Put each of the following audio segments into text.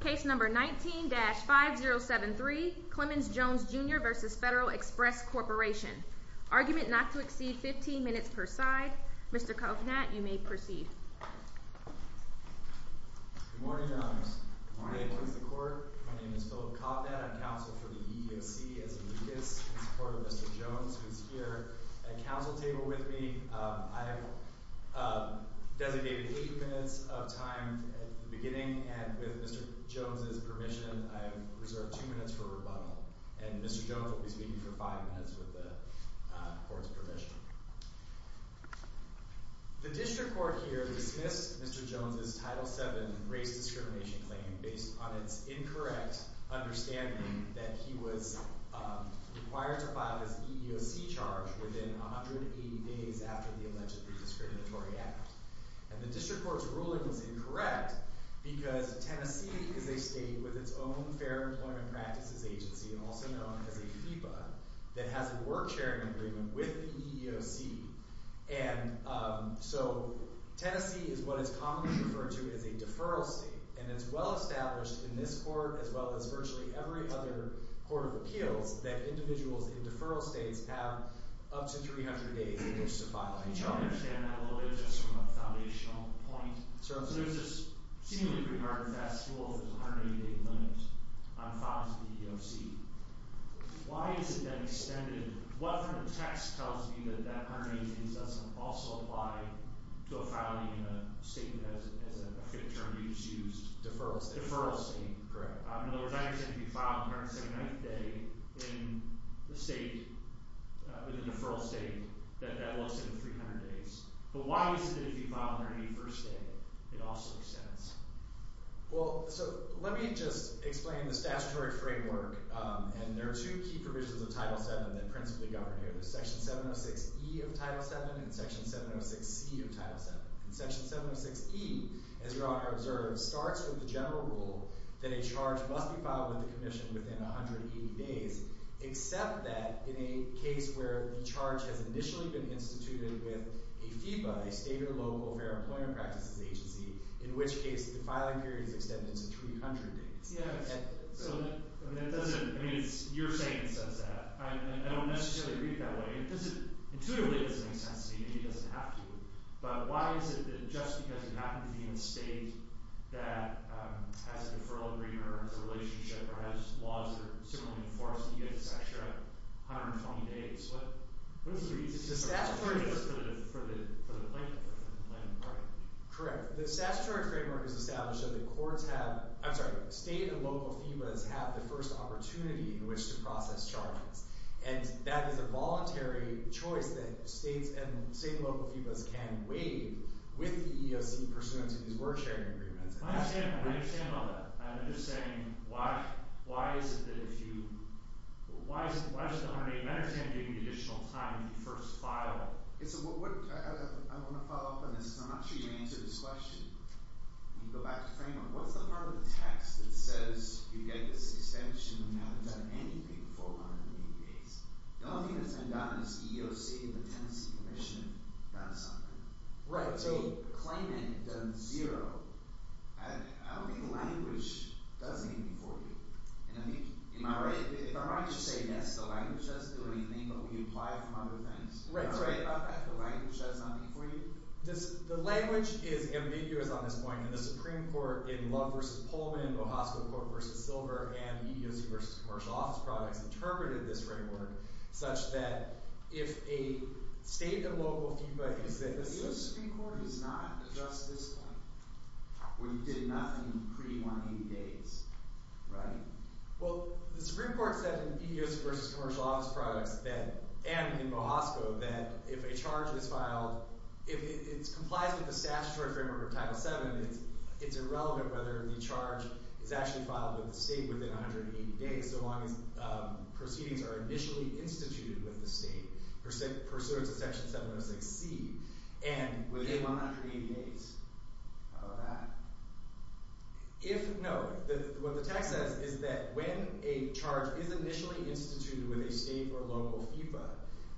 Case number 19-5073, Climmons Jones Jr v. Federal Express Corporation Argument not to exceed 15 minutes per side Mr. Kovnat, you may proceed Good morning, Your Honor Good morning May it please the Court My name is Philip Kovnat, I'm counsel for the EEOC as a Lucas in support of Mr. Jones, who is here at the counsel table with me I have designated 8 minutes of time at the beginning and with Mr. Jones' permission, I have reserved 2 minutes for rebuttal and Mr. Jones will be speaking for 5 minutes with the Court's permission The District Court here dismissed Mr. Jones' Title VII race discrimination claim based on its incorrect understanding that he was required to file his EEOC charge within 180 days after the alleged discriminatory act and the District Court's ruling is incorrect because Tennessee is a state with its own Fair Employment Practices Agency also known as a FEPA, that has a work sharing agreement with the EEOC and so Tennessee is what is commonly referred to as a deferral state and it's well established in this Court as well as virtually every other Court of Appeals that individuals in deferral states have up to 300 days in which to file an EEOC Can I understand that a little bit just from a foundational point? Certainly sir So there's this seemingly pretty hard and fast rule of the 180 day limit on files to the EEOC Why is it that extended? What from the text tells me that that 180 days doesn't also apply to a filing in a state that has a term used Deferral state Deferral state, correct In other words, I understand if you file on the 1709th day in the state, in a deferral state that that will extend 300 days But why is it that if you file on your 81st day it also extends? Well, so let me just explain the statutory framework and there are two key provisions of Title VII that principally govern here There's Section 706E of Title VII and Section 706C of Title VII And Section 706E, as Your Honor observed, starts with the general rule that a charge must be filed with the Commission within 180 days except that in a case where the charge has initially been instituted with a FEPA a state or local Fair Employment Practices Agency in which case the filing period is extended to 300 days Yes, so that doesn't, I mean it's, you're saying it says that I don't necessarily read it that way It doesn't, intuitively it doesn't make sense to me and it doesn't have to But why is it that just because you happen to be in a state that has a deferral agreement or has a relationship or has laws that are similarly enforced that you get this extra 120 days? What is the reason for the plaintiff? Correct, the statutory framework is established so that courts have I'm sorry, state and local FEPAs have the first opportunity in which to process charges and that is a voluntary choice that states and state and local FEPAs can waive with the EEOC pursuant to these word-sharing agreements I understand all that, I'm just saying why is it that if you, why does the 180-minute time give you additional time to first file? I want to follow up on this I'm not sure you answered this question Can you go back to the framework? What's the part of the text that says you get this extension when you haven't done anything for 180 days? The only thing that's been done is EEOC and the Tenancy Commission have done something Right, so claimant does zero I don't think the language does anything for you And I think, am I right? If I might just say yes, the language doesn't do anything but we apply it for other things Right, that's right I thought the language does something for you The language is ambiguous on this point and the Supreme Court in Love v. Pullman and Bohosko v. Silver and EEOC v. Commercial Office Products interpreted this framework such that if a state and local feedback is that The Supreme Court does not adjust this when you did nothing pre-180 days, right? Well, the Supreme Court said in EEOC v. Commercial Office Products and in Bohosko that if a charge is filed if it complies with the statutory framework of Title VII it's irrelevant whether the charge is actually filed with the state within 180 days so long as proceedings are initially instituted with the state pursuant to Section 706C and within 180 days How about that? No, what the text says is that when a charge is initially instituted with a state or local feedback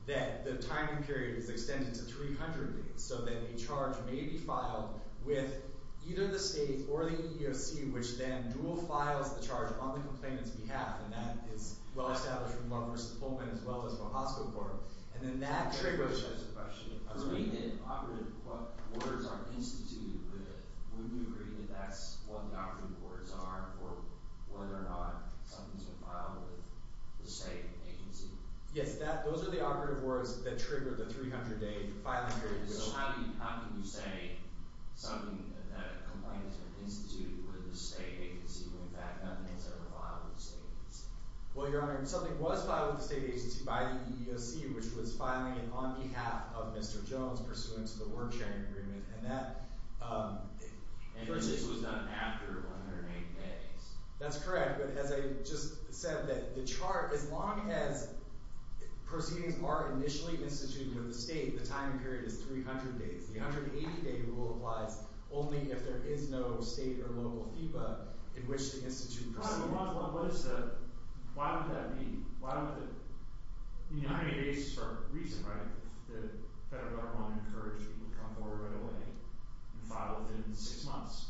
that the timing period is extended to 300 days so that a charge may be filed with either the state or the EEOC which then dual-files the charge on the complainant's behalf and that is well established in Love v. Pullman as well as Bohosko Court and then that triggers For me, the operative words aren't instituted but wouldn't you agree that that's what the operative words are for whether or not something's been filed with the same agency? Yes, those are the operative words that trigger the 300-day filing period So how can you say something that a complainant instituted with the state agency when in fact nothing's ever filed with the state agency? Well, Your Honor, something was filed with the state agency by the EEOC which was filing it on behalf of Mr. Jones pursuant to the word-sharing agreement And this was done after 180 days? That's correct, but as I just said the charge, as long as proceedings are initially instituted with the state the timing period is 300 days The 180-day rule applies only if there is no state or local FEPA in which the institute proceeds Why would that be? You know, 180 days is for a reason, right? The federal government encourages people to come forward right away and file within six months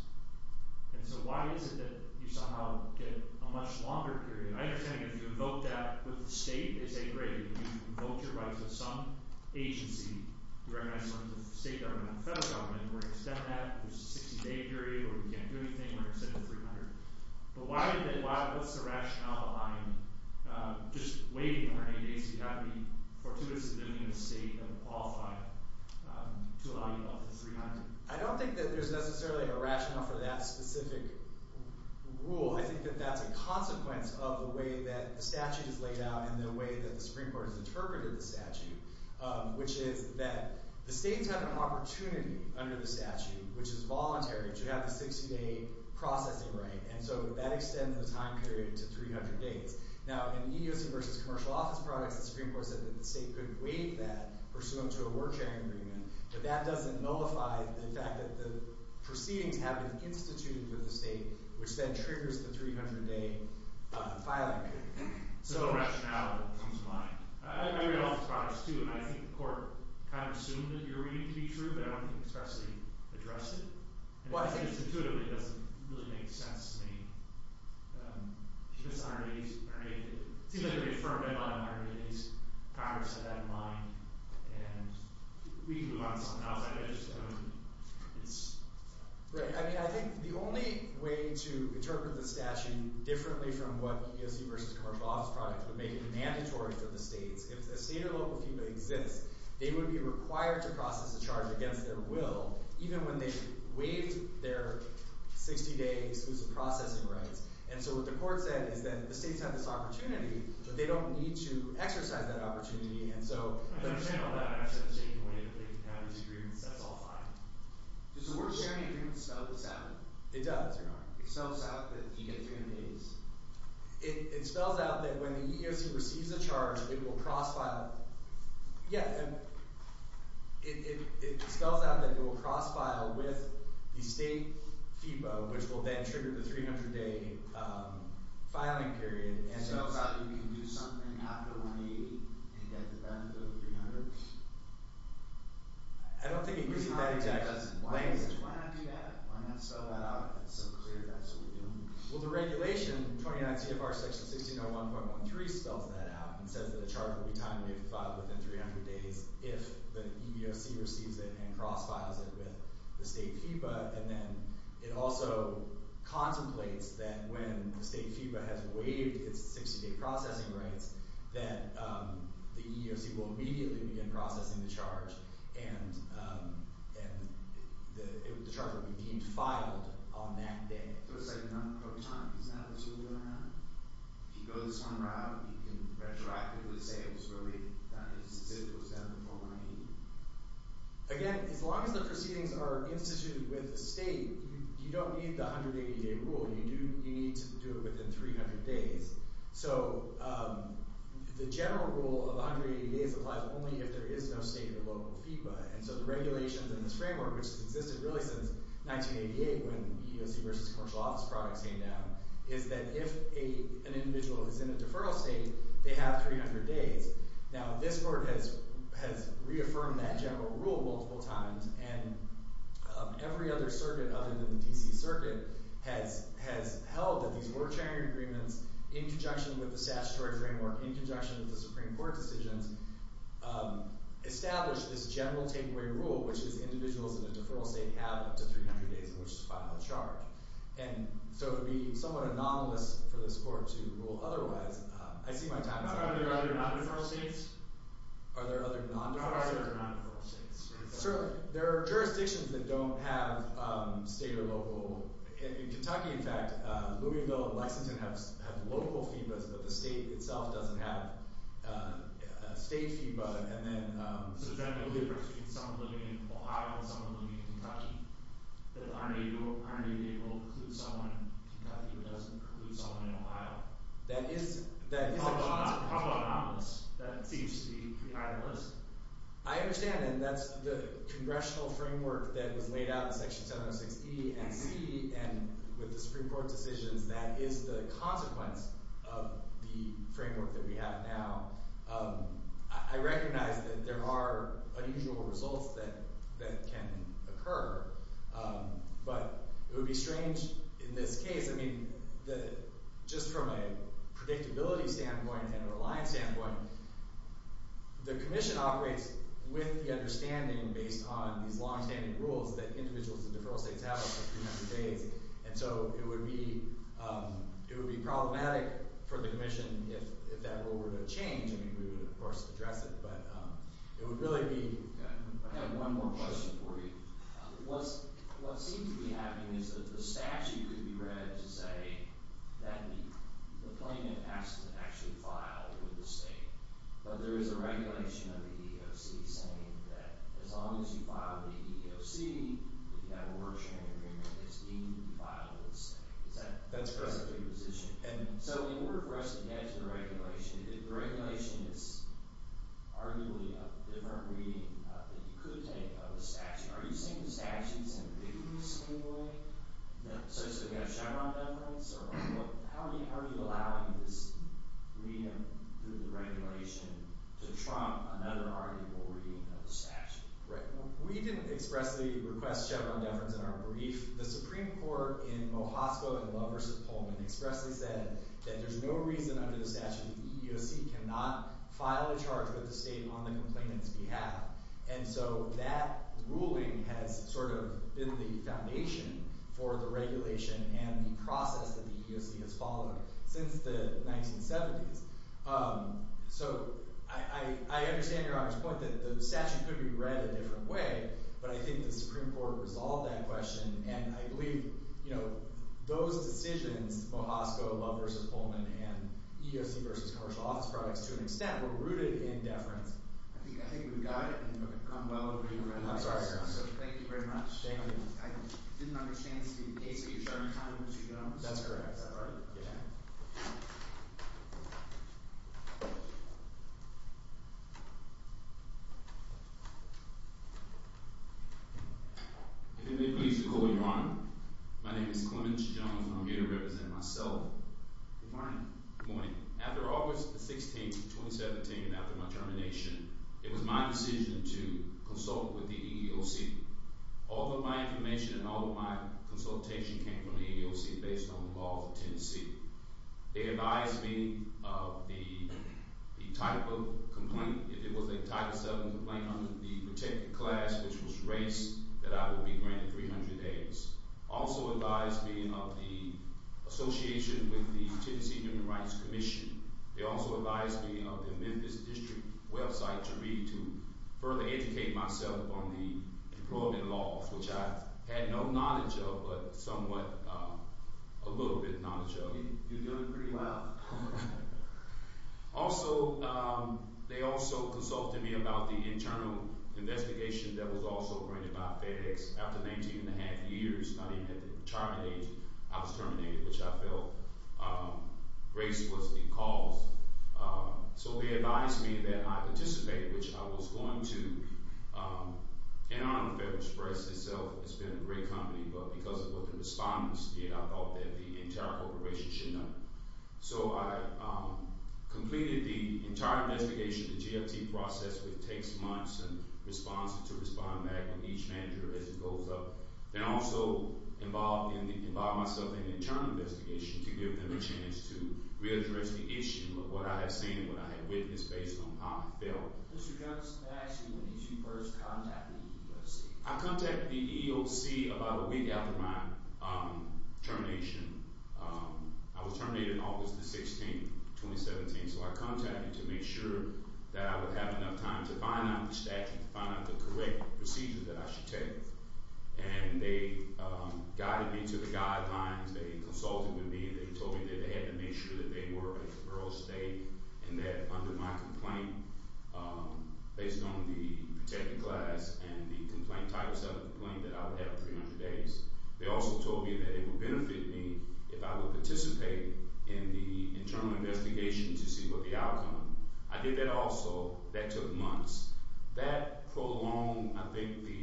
And so why is it that you somehow get a much longer period? I understand that if you invoke that with the state I think they say, great, if you invoke your rights with some agency you recognize some of the state government and the federal government and we're going to extend that, there's a 60-day period or we can't do anything, we're going to extend it to 300 But what's the rationale behind just waiting 180 days, you've got to be fortuitously living in a state that would qualify to allow you up to 300? I don't think that there's necessarily a rationale for that specific rule I think that that's a consequence of the way that the Supreme Court has interpreted the statute which is that the states have an opportunity under the statute, which is voluntary to have the 60-day processing right and so that extends the time period to 300 days Now, in EEOC versus commercial office products the Supreme Court said that the state could waive that pursuant to a work sharing agreement but that doesn't nullify the fact that the proceedings have been instituted with the state which then triggers the 300-day filing period So the rationale comes to mind I read all the products too and I think the court kind of assumed that you were reading to be true but I don't think it's actually addressed it and I think it's intuitively doesn't really make sense to me It seems like a very firm memo on 180 days Congress had that in mind and we can move on to something else I think the only way to interpret the statute differently from what EEOC versus commercial office products would make it mandatory for the states if a state or local FEMA exists they would be required to process a charge against their will even when they waived their 60-day exclusive processing rights and so what the court said is that the states have this opportunity but they don't need to exercise that opportunity and so Does the work sharing agreement sell the statute? It does. It sells out that you get 300 days It spells out that when the EEOC receives a charge it will cross-file It spells out that it will cross-file with the state FEMA which will then trigger the 300-day filing period It spells out that you can do something after 180 and get the benefit of 300? I don't think it gives you that exact... Why not do that? Why not spell that out so it's clear that's what we're doing? Well the regulation, 29 CFR section 1601.13 spells that out and says that a charge will be time waived within 300 days if the EEOC receives it and cross-files it with the state FEMA and then it also contemplates that when the state FEMA has waived its 60-day processing rights that the EEOC will immediately begin processing the charge and the charge will be deemed filed on that day So it's like not pro-time? Is that what you were going to have? If you go this one route, you can retroactively say it was waived, that is, it was done before 1980? Again, as long as the proceedings are instituted with the state you don't need the 180-day rule You do need to do it within 300 days So the general rule of 180 days applies only if there is no state or local FEMA and so the regulations in this framework which has existed really since 1988 when EEOC versus commercial office products came down is that if an individual is in a deferral state they have 300 days Now this board has reaffirmed that general rule multiple times and every other circuit other than the D.C. Circuit has held that these order-sharing agreements in conjunction with the statutory framework in conjunction with the Supreme Court decisions establish this general takeaway rule which is individuals in a deferral state have up to 300 days in which to file a charge And so it would be somewhat anomalous for this court to rule otherwise I see my time is up Are there other non-deferral states? Are there other non-deferral states? Are there other non-deferral states? There are jurisdictions that don't have state or local In Kentucky, in fact, Louisville and Lexington have local FEBAs but the state itself doesn't have a state FEBA and then So generally there's a difference between someone living in Ohio and someone living in Kentucky that aren't able to include someone in Kentucky but doesn't include someone in Ohio How about anomalous? That seems to be pretty high on the list I understand and that's the congressional framework that was laid out in Section 706E and C and with the Supreme Court decisions that is the consequence of the framework that we have now I recognize that there are unusual results that can occur but it would be strange in this case I mean, just from a predictability standpoint and a reliance standpoint the commission operates with the understanding based on these long-standing rules that individuals in deferral states have up to 300 days and so it would be problematic for the commission if that rule were to change I mean, we would of course address it but it would really be... I have one more question for you What seems to be happening is that the statute could be read to say that the claimant has to actually file with the state but there is a regulation of the EEOC saying that as long as you file with the EEOC if you have a work-sharing agreement it's legal to file with the state Is that the position? So in order for us to get to the regulation if the regulation is arguably a different reading that you could take of the statute are you saying the statute is ambiguous in any way? So you have Chevron deference? to trump another arguable reading of the statute? We didn't expressly request Chevron deference in our brief The Supreme Court in Mojasco and Lovers of Pullman expressly said that there's no reason under the statute that the EEOC cannot file a charge with the state on the complainant's behalf and so that ruling has sort of been the foundation for the regulation and the process that the EEOC has followed since the 1970s So I understand Your Honor's point that the statute could be read a different way but I think the Supreme Court resolved that question and I believe those decisions Mojasco, Lovers of Pullman and EEOC v. Commercial Office Products to an extent were rooted in deference I think we've got it I'm sorry Your Honor Thank you very much I didn't understand the case at your turn That's correct If it may please the Court, Your Honor My name is Clemens Jones and I'm here to represent myself Good morning After August 16, 2017 and after my termination it was my decision to consult with the EEOC All of my information and all of my consultation came from the EEOC based on the laws of Tennessee They advised me of the type of complaint if it was a Title VII complaint under the protected class, which was race that I would be granted 300 days Also advised me of the association with the Tennessee Human Rights Commission They also advised me of the Memphis District website to read to further educate myself on the employment laws which I had no knowledge of but somewhat, a little bit knowledge of You're doing pretty well Also, they also consulted me about the internal investigation that was also granted by FedEx After 19 and a half years I didn't have to terminate I was terminated, which I felt race was the cause So they advised me that I participated which I was going to and I'm a FedEx person so it's been a great company but because of what the respondents did I thought that the entire corporation should know So I completed the entire investigation the GFT process, which takes months to respond back from each manager as it goes up I also involved myself in the internal investigation to give them a chance to readdress the issue of what I had seen and what I had witnessed based on how I felt I contacted the EEOC about a week after my termination I was terminated on August the 16th, 2017 so I contacted to make sure that I would have enough time to find out the statute to find out the correct procedure that I should take and they guided me to the guidelines they consulted with me they told me that they had to make sure that they were a federal state and that under my complaint based on the protected class and the Title VII complaint that I would have in 300 days they also told me that it would benefit me if I would participate in the internal investigation to see what the outcome I did that also, that took months that prolonged, I think the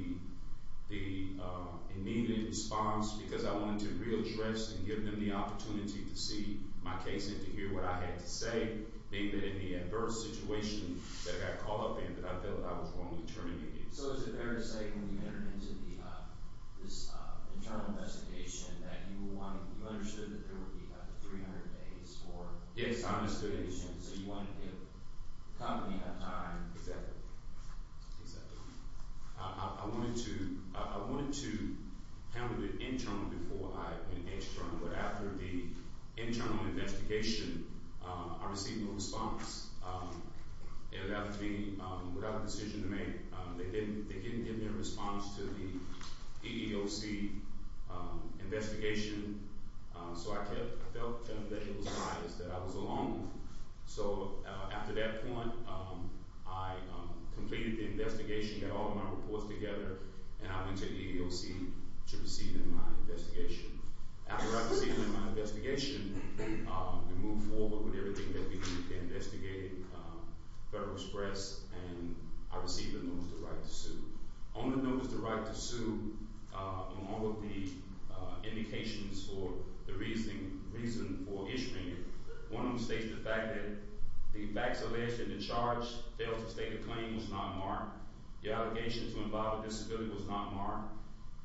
immediate response because I wanted to readdress and give them the opportunity to see my case and to hear what I had to say being that in the adverse situation that I got caught up in I felt that I was wrongly terminated So is it fair to say when you entered into this internal investigation that you understood that there would be up to 300 days for Yes, I understood So you wanted to give the company enough time Exactly I wanted to I wanted to handle it internally before I engaged but after the internal investigation I received no response it would have to be without a decision to make they didn't give me a response to the EEOC investigation so I felt that it was biased that I was alone so after that point I completed the investigation got all of my reports together and I went to EEOC to proceed in my investigation after I proceeded in my investigation we moved forward with everything that we did I proceeded to investigate Federal Express and I received a notice of right to sue on the notice of right to sue on all of the indications for the reason for issuing it one of them states the fact that the facts alleged that the charge failed to state a claim was not marked the allegation to involve a disability was not marked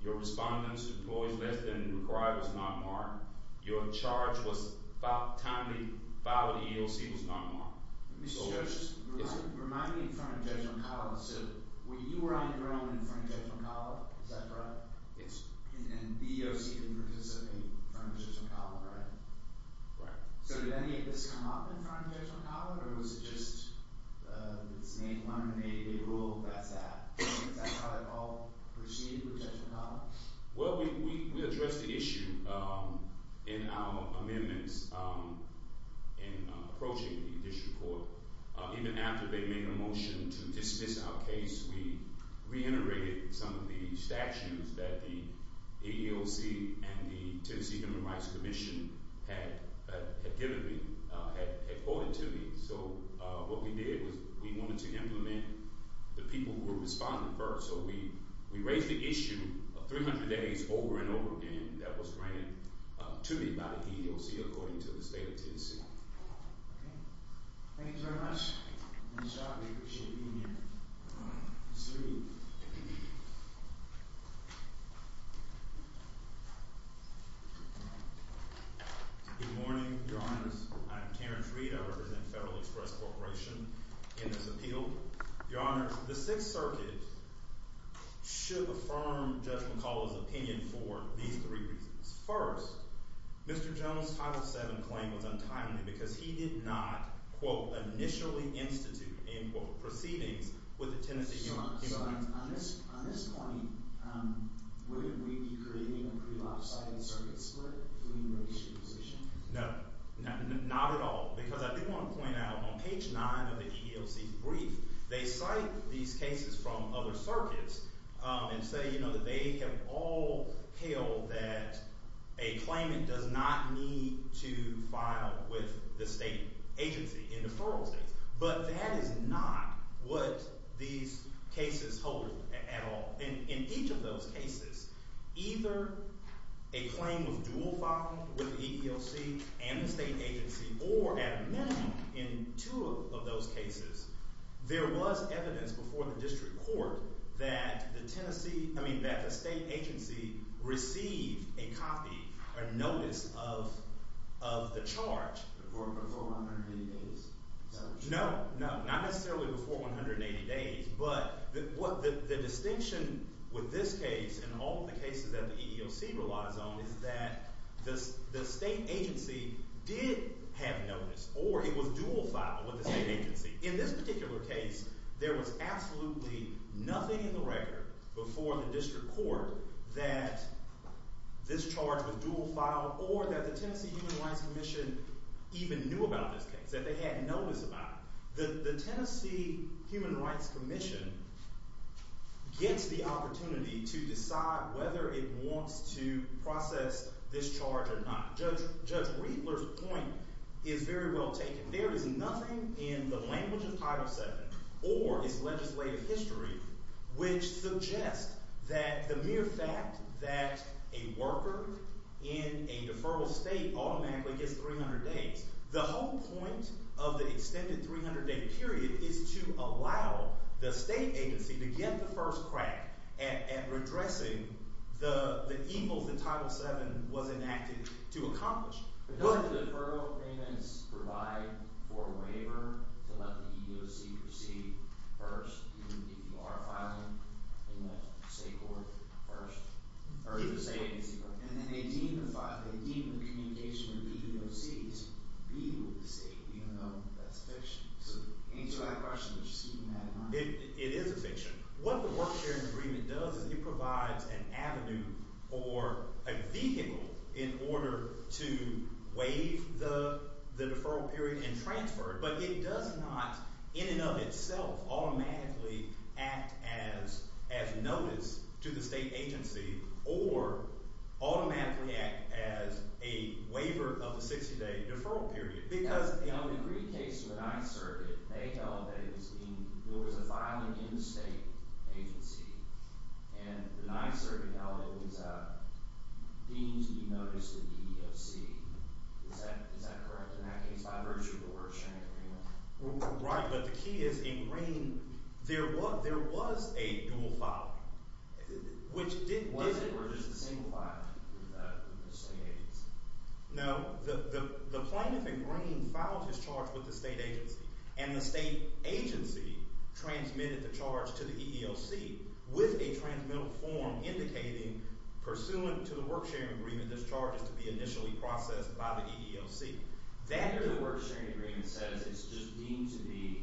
your respondents employed less than required was not marked your charge was timely file of the EEOC was not marked Mr. Judge remind me in front of Judge McAuliffe so you were on your own in front of Judge McAuliffe is that correct? yes and the EEOC didn't participate in front of Judge McAuliffe right? right so did any of this come up in front of Judge McAuliffe or was it just it's named one and they ruled that's that is that how they all proceeded with Judge McAuliffe? well we addressed the issue in our amendments in approaching the district court even after they made a motion to dismiss our case we reiterated some of the statutes that the EEOC and the Tennessee Human Rights Commission had given me had quoted to me so what we did was we wanted to implement the people who were responding first so we raised the issue of 300 days over and over again that was granted to me by the EEOC according to the state of Tennessee thank you very much we appreciate you being here good morning your honors I am Terrence Reed I represent Federal Express Corporation in this appeal your honors the 6th circuit should affirm Judge McAuliffe's opinion for these three reasons first Mr. Jones title 7 claim was untimely because he did not quote initially institute and quote proceedings with the Tennessee Human Rights Commission on this point would we be creating a pre-lapse circuit split no not at all because I do want to point out on page 9 of the EEOC brief they cite these cases from other circuits and say that they have all held that a claimant does not need to file with the state agency in deferral states but that is not what these cases hold at all in each of those cases either a claim of dual filing with the EEOC and the state agency or at a minimum in two of those cases there was evidence before the district court that the Tennessee I mean that the state agency received a copy a notice of the charge before 180 days no not necessarily before 180 days but the distinction with this case and all the cases that the EEOC relies on is that the state agency did have notice or it was dual filed with the state agency. In this particular case there was absolutely nothing in the record before the district court that this charge was dual filed or that the Tennessee Human Rights Commission even knew about this case that they had notice about the Tennessee Human Rights Commission gets the opportunity to decide whether it wants to process this charge or not Judge Riedler's point is very well taken. There is nothing in the language of Title 7 or its legislative history which suggests that the mere fact that a worker in a deferral state automatically gets 300 days. The whole point of the extended 300 day period is to allow the state agency to get the first crack at redressing the evils that Title 7 was enacted to accomplish. It is a fiction. What the work sharing agreement does is it provides an avenue or a vehicle in order to waive the deferral period and transfer it but it does not in and of itself automatically act as notice to the state agency or automatically act as a waiver of the 60 day deferral period. In the Greek case of the ninth circuit they held that there was a filing in the state agency and the ninth circuit held it was deemed to be notice to the EEOC. Is that correct in that case by virtue of the work sharing agreement? Right, but the key is in Green there was a dual filing. Was it or was it a single filing with the state agency? No, the plaintiff in Green filed his charge with the state agency and the state agency transmitted the charge to the EEOC with a transmittal form indicating pursuant to the work sharing agreement this charge is to be initially processed by the EEOC. That work sharing agreement says it's just deemed to be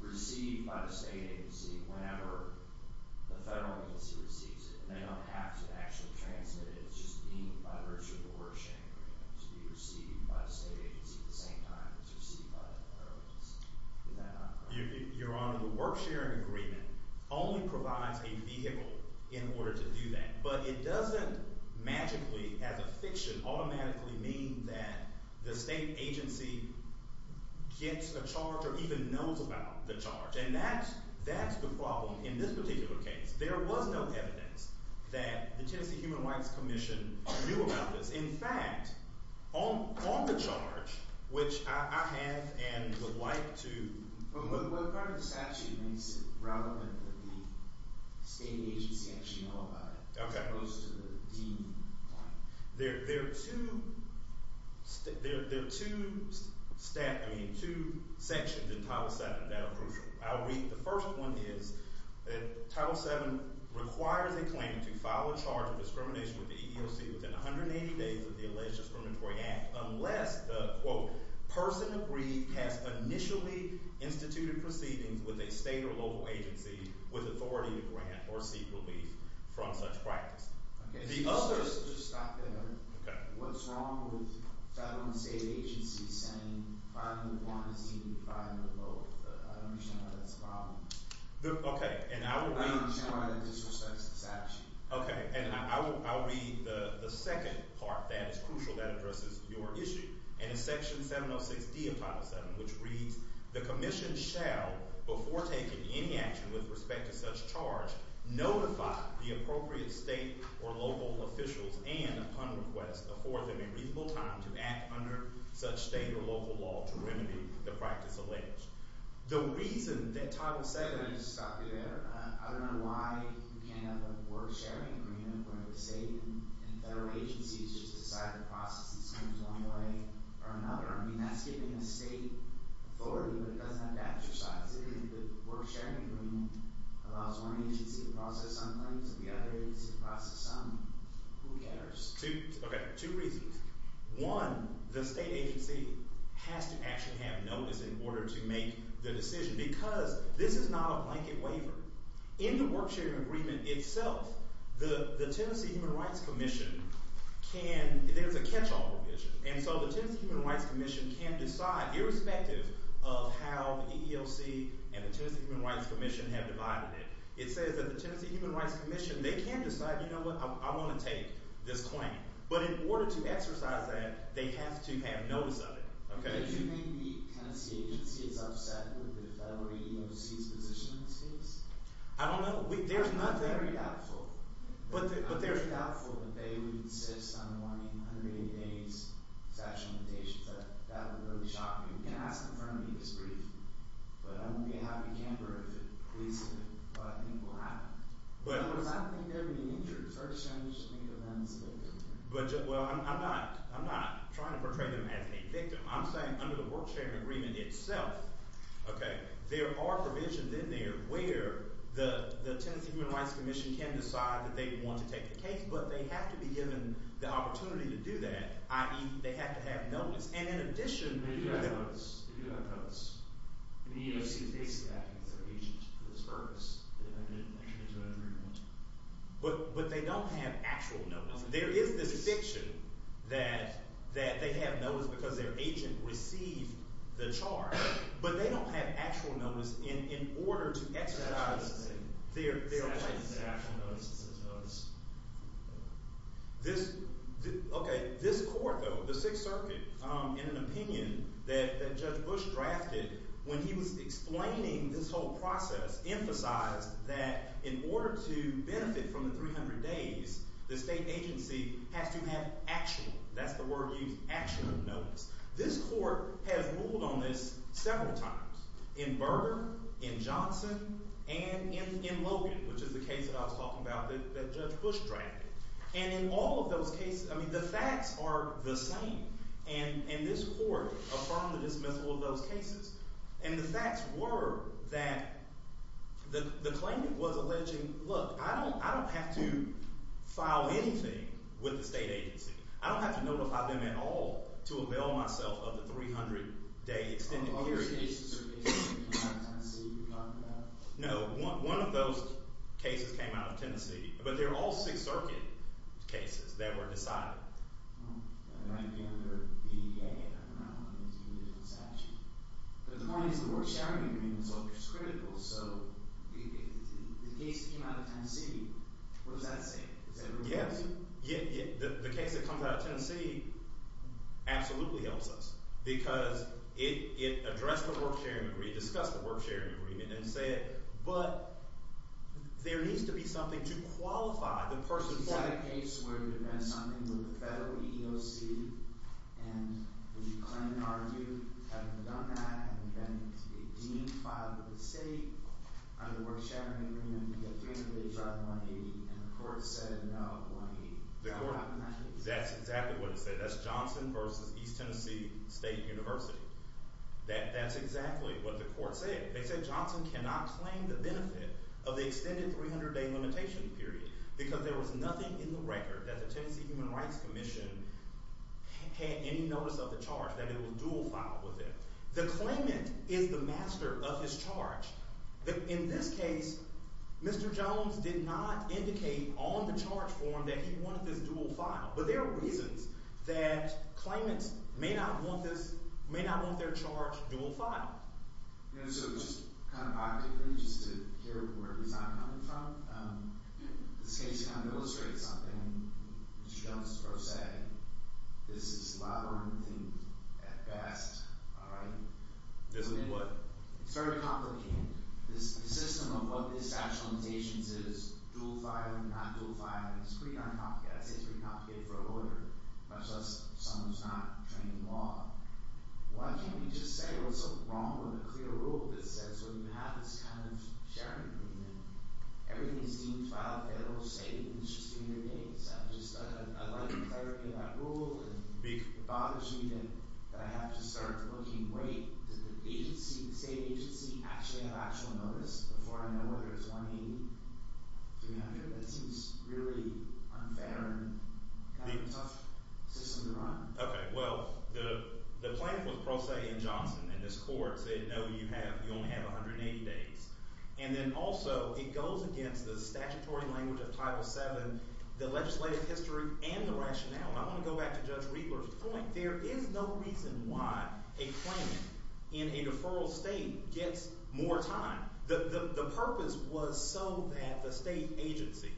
received by the state agency whenever the federal agency receives it. They don't have to actually transmit it. It's just deemed by virtue of the work sharing agreement to be received by the state agency at the same time it's received by the federal agency. Your Honor, the work sharing agreement only provides a vehicle in order to do that, but it doesn't magically as a fiction automatically mean that the state agency gets a charge or even knows about the charge and that's the problem in this particular case. There was no evidence that the Tennessee Human Rights Commission knew about this. In fact, on the charge, which I have and would like to... What part of the statute makes it relevant that the state agency actually know about it? There are two sections in Title VII that are crucial. The first one is Title VII requires a claim to file a charge of discrimination with the EEOC within 180 days of the alleged discriminatory act unless the quote, person agreed has initially instituted proceedings with a state or local agency with authority to grant or seek relief from such practice. The other... What's wrong with federal and state agencies saying filing one is equal to filing both? I don't understand why that's a problem. Okay, and I will read... I don't understand why that disrespects the statute. Okay, and I will read the second part that is crucial that addresses your issue. And it's Section 706D of Title VII which reads, the commission shall before taking any action with respect to such charge notify the appropriate state or local officials and, upon request, afford them a reasonable time to act under such state or local law to remedy the practice alleged. The reason that Title VII... Can I just stop you there? I don't know why you can't have a board sharing agreement where the state and federal agencies just decide to process these claims one way or another. I mean, that's giving the state authority, but it doesn't have to exercise it. If the board sharing agreement allows one agency to process some claims and the other agency to process some, who cares? Okay, two reasons. One, the state agency has to actually have notice in order to make the decision because this is not a blanket waiver. In the work sharing agreement itself, the Tennessee Human Rights Commission can... There's a catch-all provision, and so the Tennessee Human Rights Commission can decide irrespective of how the EEOC and the Tennessee Human Rights Commission have divided it. It says that the Tennessee Human Rights Commission, they can decide you know what, I want to take this claim, but in order to exercise that, they have to have notice of it. Okay? Do you think the Tennessee agency is upset with the federal EEOC's position in this case? I don't know. There's nothing... I'm very doubtful. I'm doubtful that they would insist on 180 days of factual limitations. That would really shock me. You can ask them for an EEOC brief, but I won't be a happy camper if it leads to what I think will happen. Because I don't think they're being injured. It's very strange to think of them as a victim. Well, I'm not trying to portray them as a victim. I'm saying under the work-sharing agreement itself, okay, there are provisions in there where the Tennessee Human Rights Commission can decide that they want to take the case, but they have to be given the opportunity to do that, i.e. they have to have notice. And in addition... They do have notice. The EEOC is basically acting as their agent for this purpose. But they don't have actual notice. There is this fiction that they have notice because their agent received the charge, but they don't have actual notice in order to exercise their rights. This court, though, the Sixth Circuit, in an opinion that Judge Bush drafted when he was explaining this whole process emphasized that in order to benefit from the 300 days, the state agency has to have actual, that's the word used, actual notice. This court has ruled on this several times. In Berger, in Johnson, and in Logan, which is the case that I was talking about that Judge Bush drafted. And in all of those cases, the facts are the same. And this court affirmed the dismissal of those cases. And the facts were that the claimant was alleging, look, I don't have to file anything with the state agency. I don't have to notify them at all to avail myself of the 300-day extended period. No, one of those cases came out of Tennessee. But they're all Sixth Circuit cases that were decided. But the point is the court's sharing agreement is critical, so if the case came out of Tennessee, what does that say? Yes, the case that comes out of Tennessee absolutely helps us, because it addressed the work-sharing agreement, discussed the work-sharing agreement, and said, but there needs to be something to qualify the person for that. Is that a case where you defend something with the federal EEOC, and would you claim and argue, having done that, having been a dean, would you file with the state on the work-sharing agreement and get 300 days out of 180, and the court said no, 180. That's exactly what it said. That's Johnson versus East Tennessee State University. That's exactly what the court said. They said Johnson cannot claim the benefit of the extended 300-day limitation period, because there was nothing in the record that the Tennessee Human Rights Commission had any notice of the charge, that it was dual-filed with it. The claimant is the master of his charge. In this case, Mr. Jones did not indicate on the charge form that he wanted this dual-filed, but there are reasons that claimants may not want this, may not want their charge dual-filed. So, just kind of optically, just to hear where he's not coming from, this case kind of illustrates something Mr. Jones is supposed to say, this is labyrinthine at best, all right? This is what? It's very complicated. The system of what this actualization says, dual-filed and not dual-filed, it's pretty uncomplicated. I'd say it's pretty complicated for a lawyer, much less someone who's not trained in law. Why can't you just say what's wrong with a clear rule that says when you have this kind of sharing agreement, everything is deemed file-fail-safe and it's just a matter of days? I'd like clarity on that rule, and it bothers me that I have to start looking, wait, does the agency, the state agency actually have actual notice before I know whether it's 180, 300? That seems really unfair and kind of a tough system to run. Okay, well, the plaintiff was Prose and Johnson, and this court said no, you only have 180 days. And then also, it goes against the statutory language of Title VII, the legislative history and the rationale. I want to go back to Judge Riegler's point. There is no reason why a claimant in a deferral state gets more time. The purpose was so that the state agency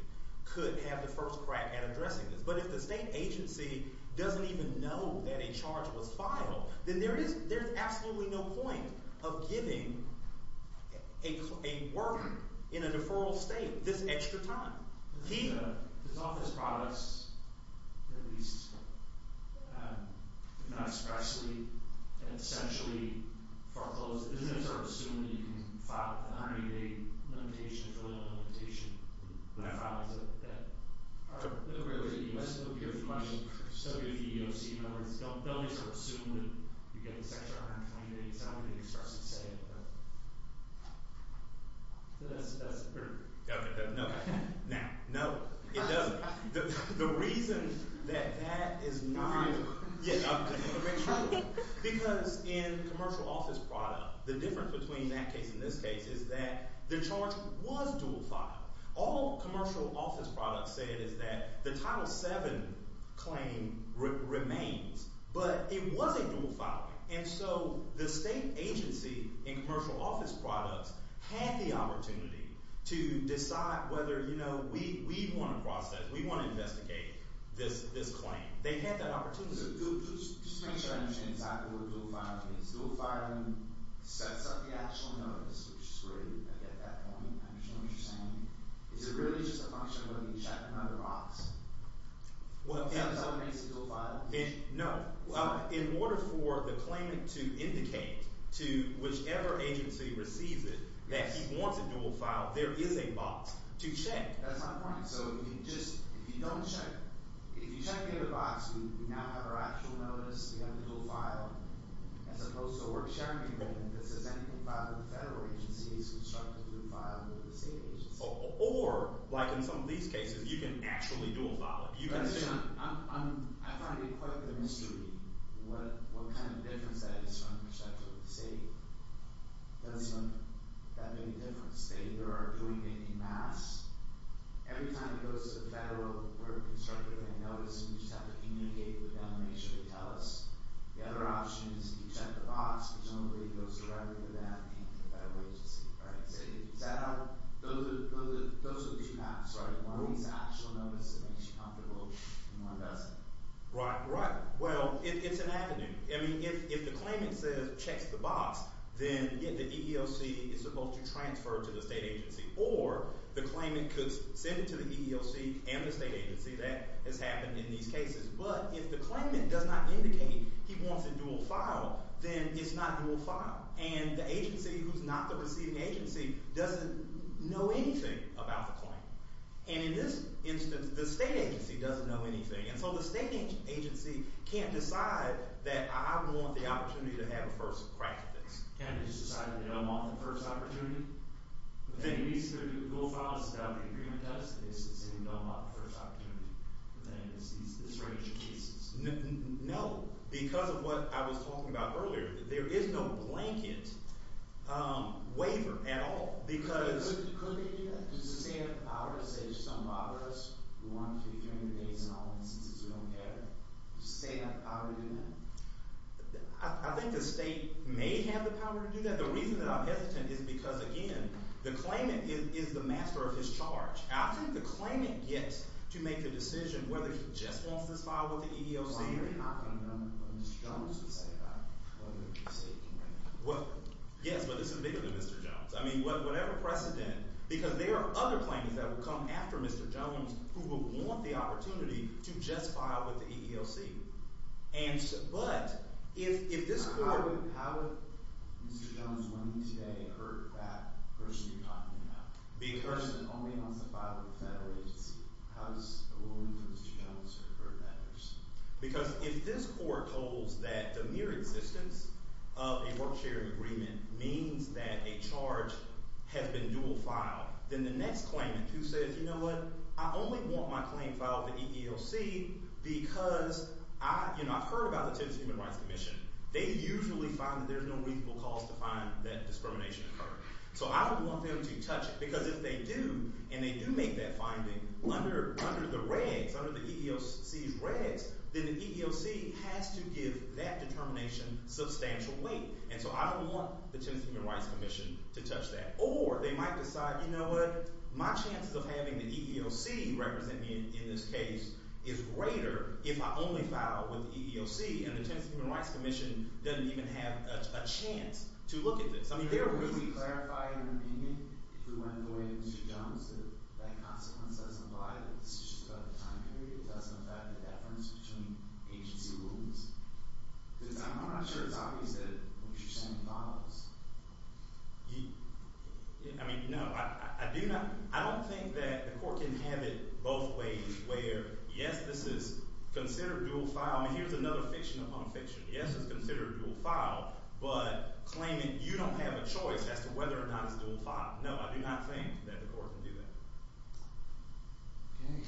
could have the first crack at addressing this. But if the state agency doesn't even know that a charge was filed, then there is absolutely no point of giving a worker in a deferral state this extra time. There's all these products at least not expressly and essentially foreclosed. Isn't it sort of assumed that you can file a 180-day limitation, a fill-in limitation when that file is a debt? I don't know where it is in the U.S. It would be a fee of C.E.O.C. In other words, don't they sort of assume that you get this extra 120 days? I don't know what they expressly say. So that's no. Now, no. It doesn't. The reason that that is not... Because in commercial office product, the difference between that case and this case is that the charge was dual-filed. All commercial office products said is that the Title VII claim remains. But it wasn't dual-filing. And so the state agency in commercial office products had the opportunity to decide whether, you know, we want to investigate this claim. They had that opportunity. Just to make sure I understand exactly what dual-filing is. Dual-filing sets up the actual notice, which is really I get that point. I understand what you're saying. Is it really just a function of when you check another box? Is that what makes it dual-filing? No. In order for the claimant to indicate to whichever agency receives it that he wants it dual-filed, there is a box to check. That's my point. If you don't check, if you check the other box, we now have our actual notice. We have the dual-file. As opposed to, we're checking if this is anything filed with the federal agencies constructed to be filed with the state agencies. Or, like in some of these cases, you can actually dual-file it. I'm trying to equate the mystery. What kind of difference that is from the perspective of the state? Does that make a difference? They either are doing it en masse. Every time it goes to the federal, we're constructing a notice, and we just have to communicate with them to make sure they tell us. The other option is you check the box, because normally it goes directly to them and the federal agency. Those are the two maps, right? One is the actual notice that makes you comfortable, and one doesn't. Right, right. It's an avenue. If the claimant checks the box, then the EEOC is supposed to transfer to the state agency. Or, the claimant could send it to the EEOC and the state agency. That has happened in these cases. But, if the claimant does not indicate he wants it dual-filed, then it's not dual-filed. The agency who's not the receiving agency doesn't know anything about the claim. In this instance, the state agency can't decide that I want the opportunity to have a first crack at this. No. Because of what I was talking about earlier, there is no blanket waiver at all. Does the state have the power to do that? I think the state may have the power to do that. The reason that I'm hesitant is because, again, the claimant is the master of his charge. After the claimant gets to make the decision whether he just wants this filed with the EEOC... Yes, but this is bigger than Mr. Jones. I mean, whatever precedent... Because there are other claimants that will come after Mr. Jones who will want the opportunity to just file with the EEOC. But if this court... How would Mr. Jones winning today hurt that person you're talking about? The person only wants to file with the federal agency. How does a woman from Mr. Jones hurt that person? Because if this court holds that the mere existence of a work-sharing agreement means that a charge has been dual-filed, then the next claimant who says, you know what, I only want my claim filed with the EEOC because I've heard about the Tennessee Human Rights Commission. They usually find that there's no reasonable cause to find that discrimination occurred. So I don't want them to touch it. Because if they do, and they do make that finding, under the regs, under the EEOC's regs, then the EEOC has to give that determination substantial weight. And so I don't want the Tennessee Human Rights Commission to touch that. Or they might decide, you know what, my chances of having the EEOC represent me in this case is greater if I only file with the EEOC. And the Tennessee Human Rights Commission doesn't even have a chance to look at this. I mean, there are reasons. Would you clarify in your opinion, if we went the way of Mr. Jones, that that consequence doesn't apply that it's just about the time period? It doesn't affect the deference between agency rules? Because I'm not sure it's obvious that what you're saying follows. I mean, no. I don't think that the court can have it both ways where, yes, this is considered dual file. I mean, here's another fiction upon fiction. Yes, it's considered dual file, but claiming you don't have a choice as to whether or not it's dual file. No, I do not think that the court can do that. Thank you.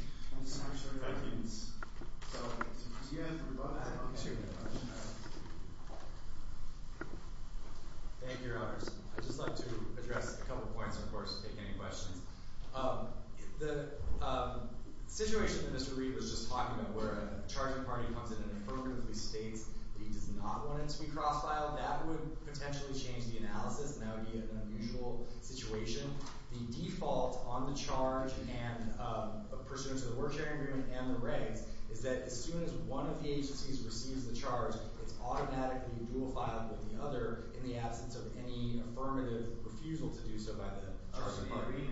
Any other questions? Thank you, Your Honors. I'd just like to address a couple points, of course, if you have any questions. The situation that Mr. Reed was just talking about, where a charging party comes in and affirmatively states that he does not want it to be cross-filed, that would potentially change the analysis, and that would be an unusual situation. The default on the charge and pursuant to the word sharing agreement and the regs is that as soon as one of the agencies receives the charge, it's automatically dual filed with the other in the absence of any affirmative refusal to do so by the charging party.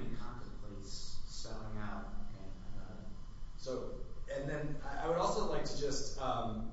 And then I would also like to just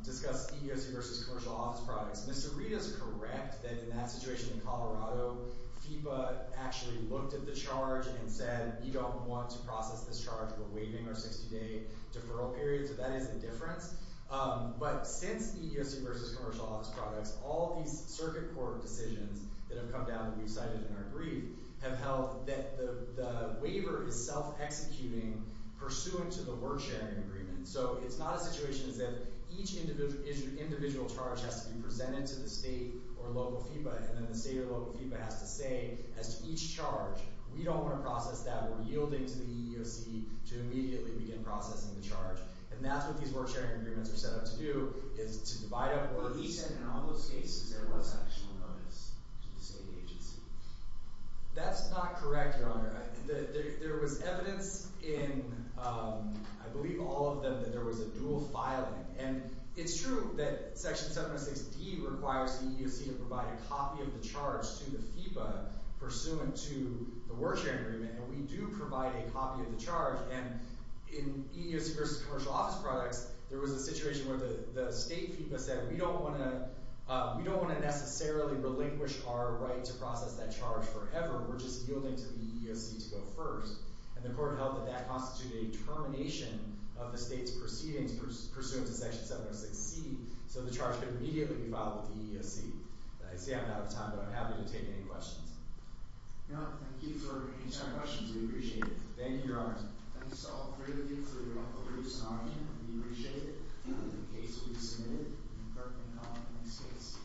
discuss EEOC versus commercial office products. Mr. Reed is correct that in that situation in Colorado, FEPA actually looked at the charge and said, you don't want to process this charge. We're waiving our 60-day deferral period, so that is the difference. But since EEOC versus commercial office products, all these circuit court decisions that have come down that we've cited in our brief have held that the waiver is self-executing pursuant to the word sharing agreement. So it's not a situation as if each individual charge has to be presented to the state or local FEPA, and then the state or local FEPA has to say as to each charge, we don't want to process that, we're yielding to the EEOC to immediately begin processing the charge. And that's what these word sharing agreements are set up to do, is to divide up words. But he said in all those cases there was an additional notice to the state agency. That's not correct, Your Honor. There was evidence in I believe all of them that there was a dual filing. And it's true that Section 706D requires the EEOC to provide a copy of the charge to the FEPA pursuant to the word sharing agreement. And we do provide a copy of the charge and in EEOC versus commercial office products, there was a situation where the state FEPA said we don't want to necessarily relinquish our right to process that charge forever, we're just yielding to the EEOC to go first. And the court held that that constituted a termination of the state's proceedings pursuant to Section 706C so the charge could immediately be filed with the EEOC. I see I'm out of time but I'm happy to take any questions. No, thank you for your time and questions. We appreciate it. Thank you, Your Honor. Thank you so very much for your time. We appreciate it. The case will be submitted in the next case.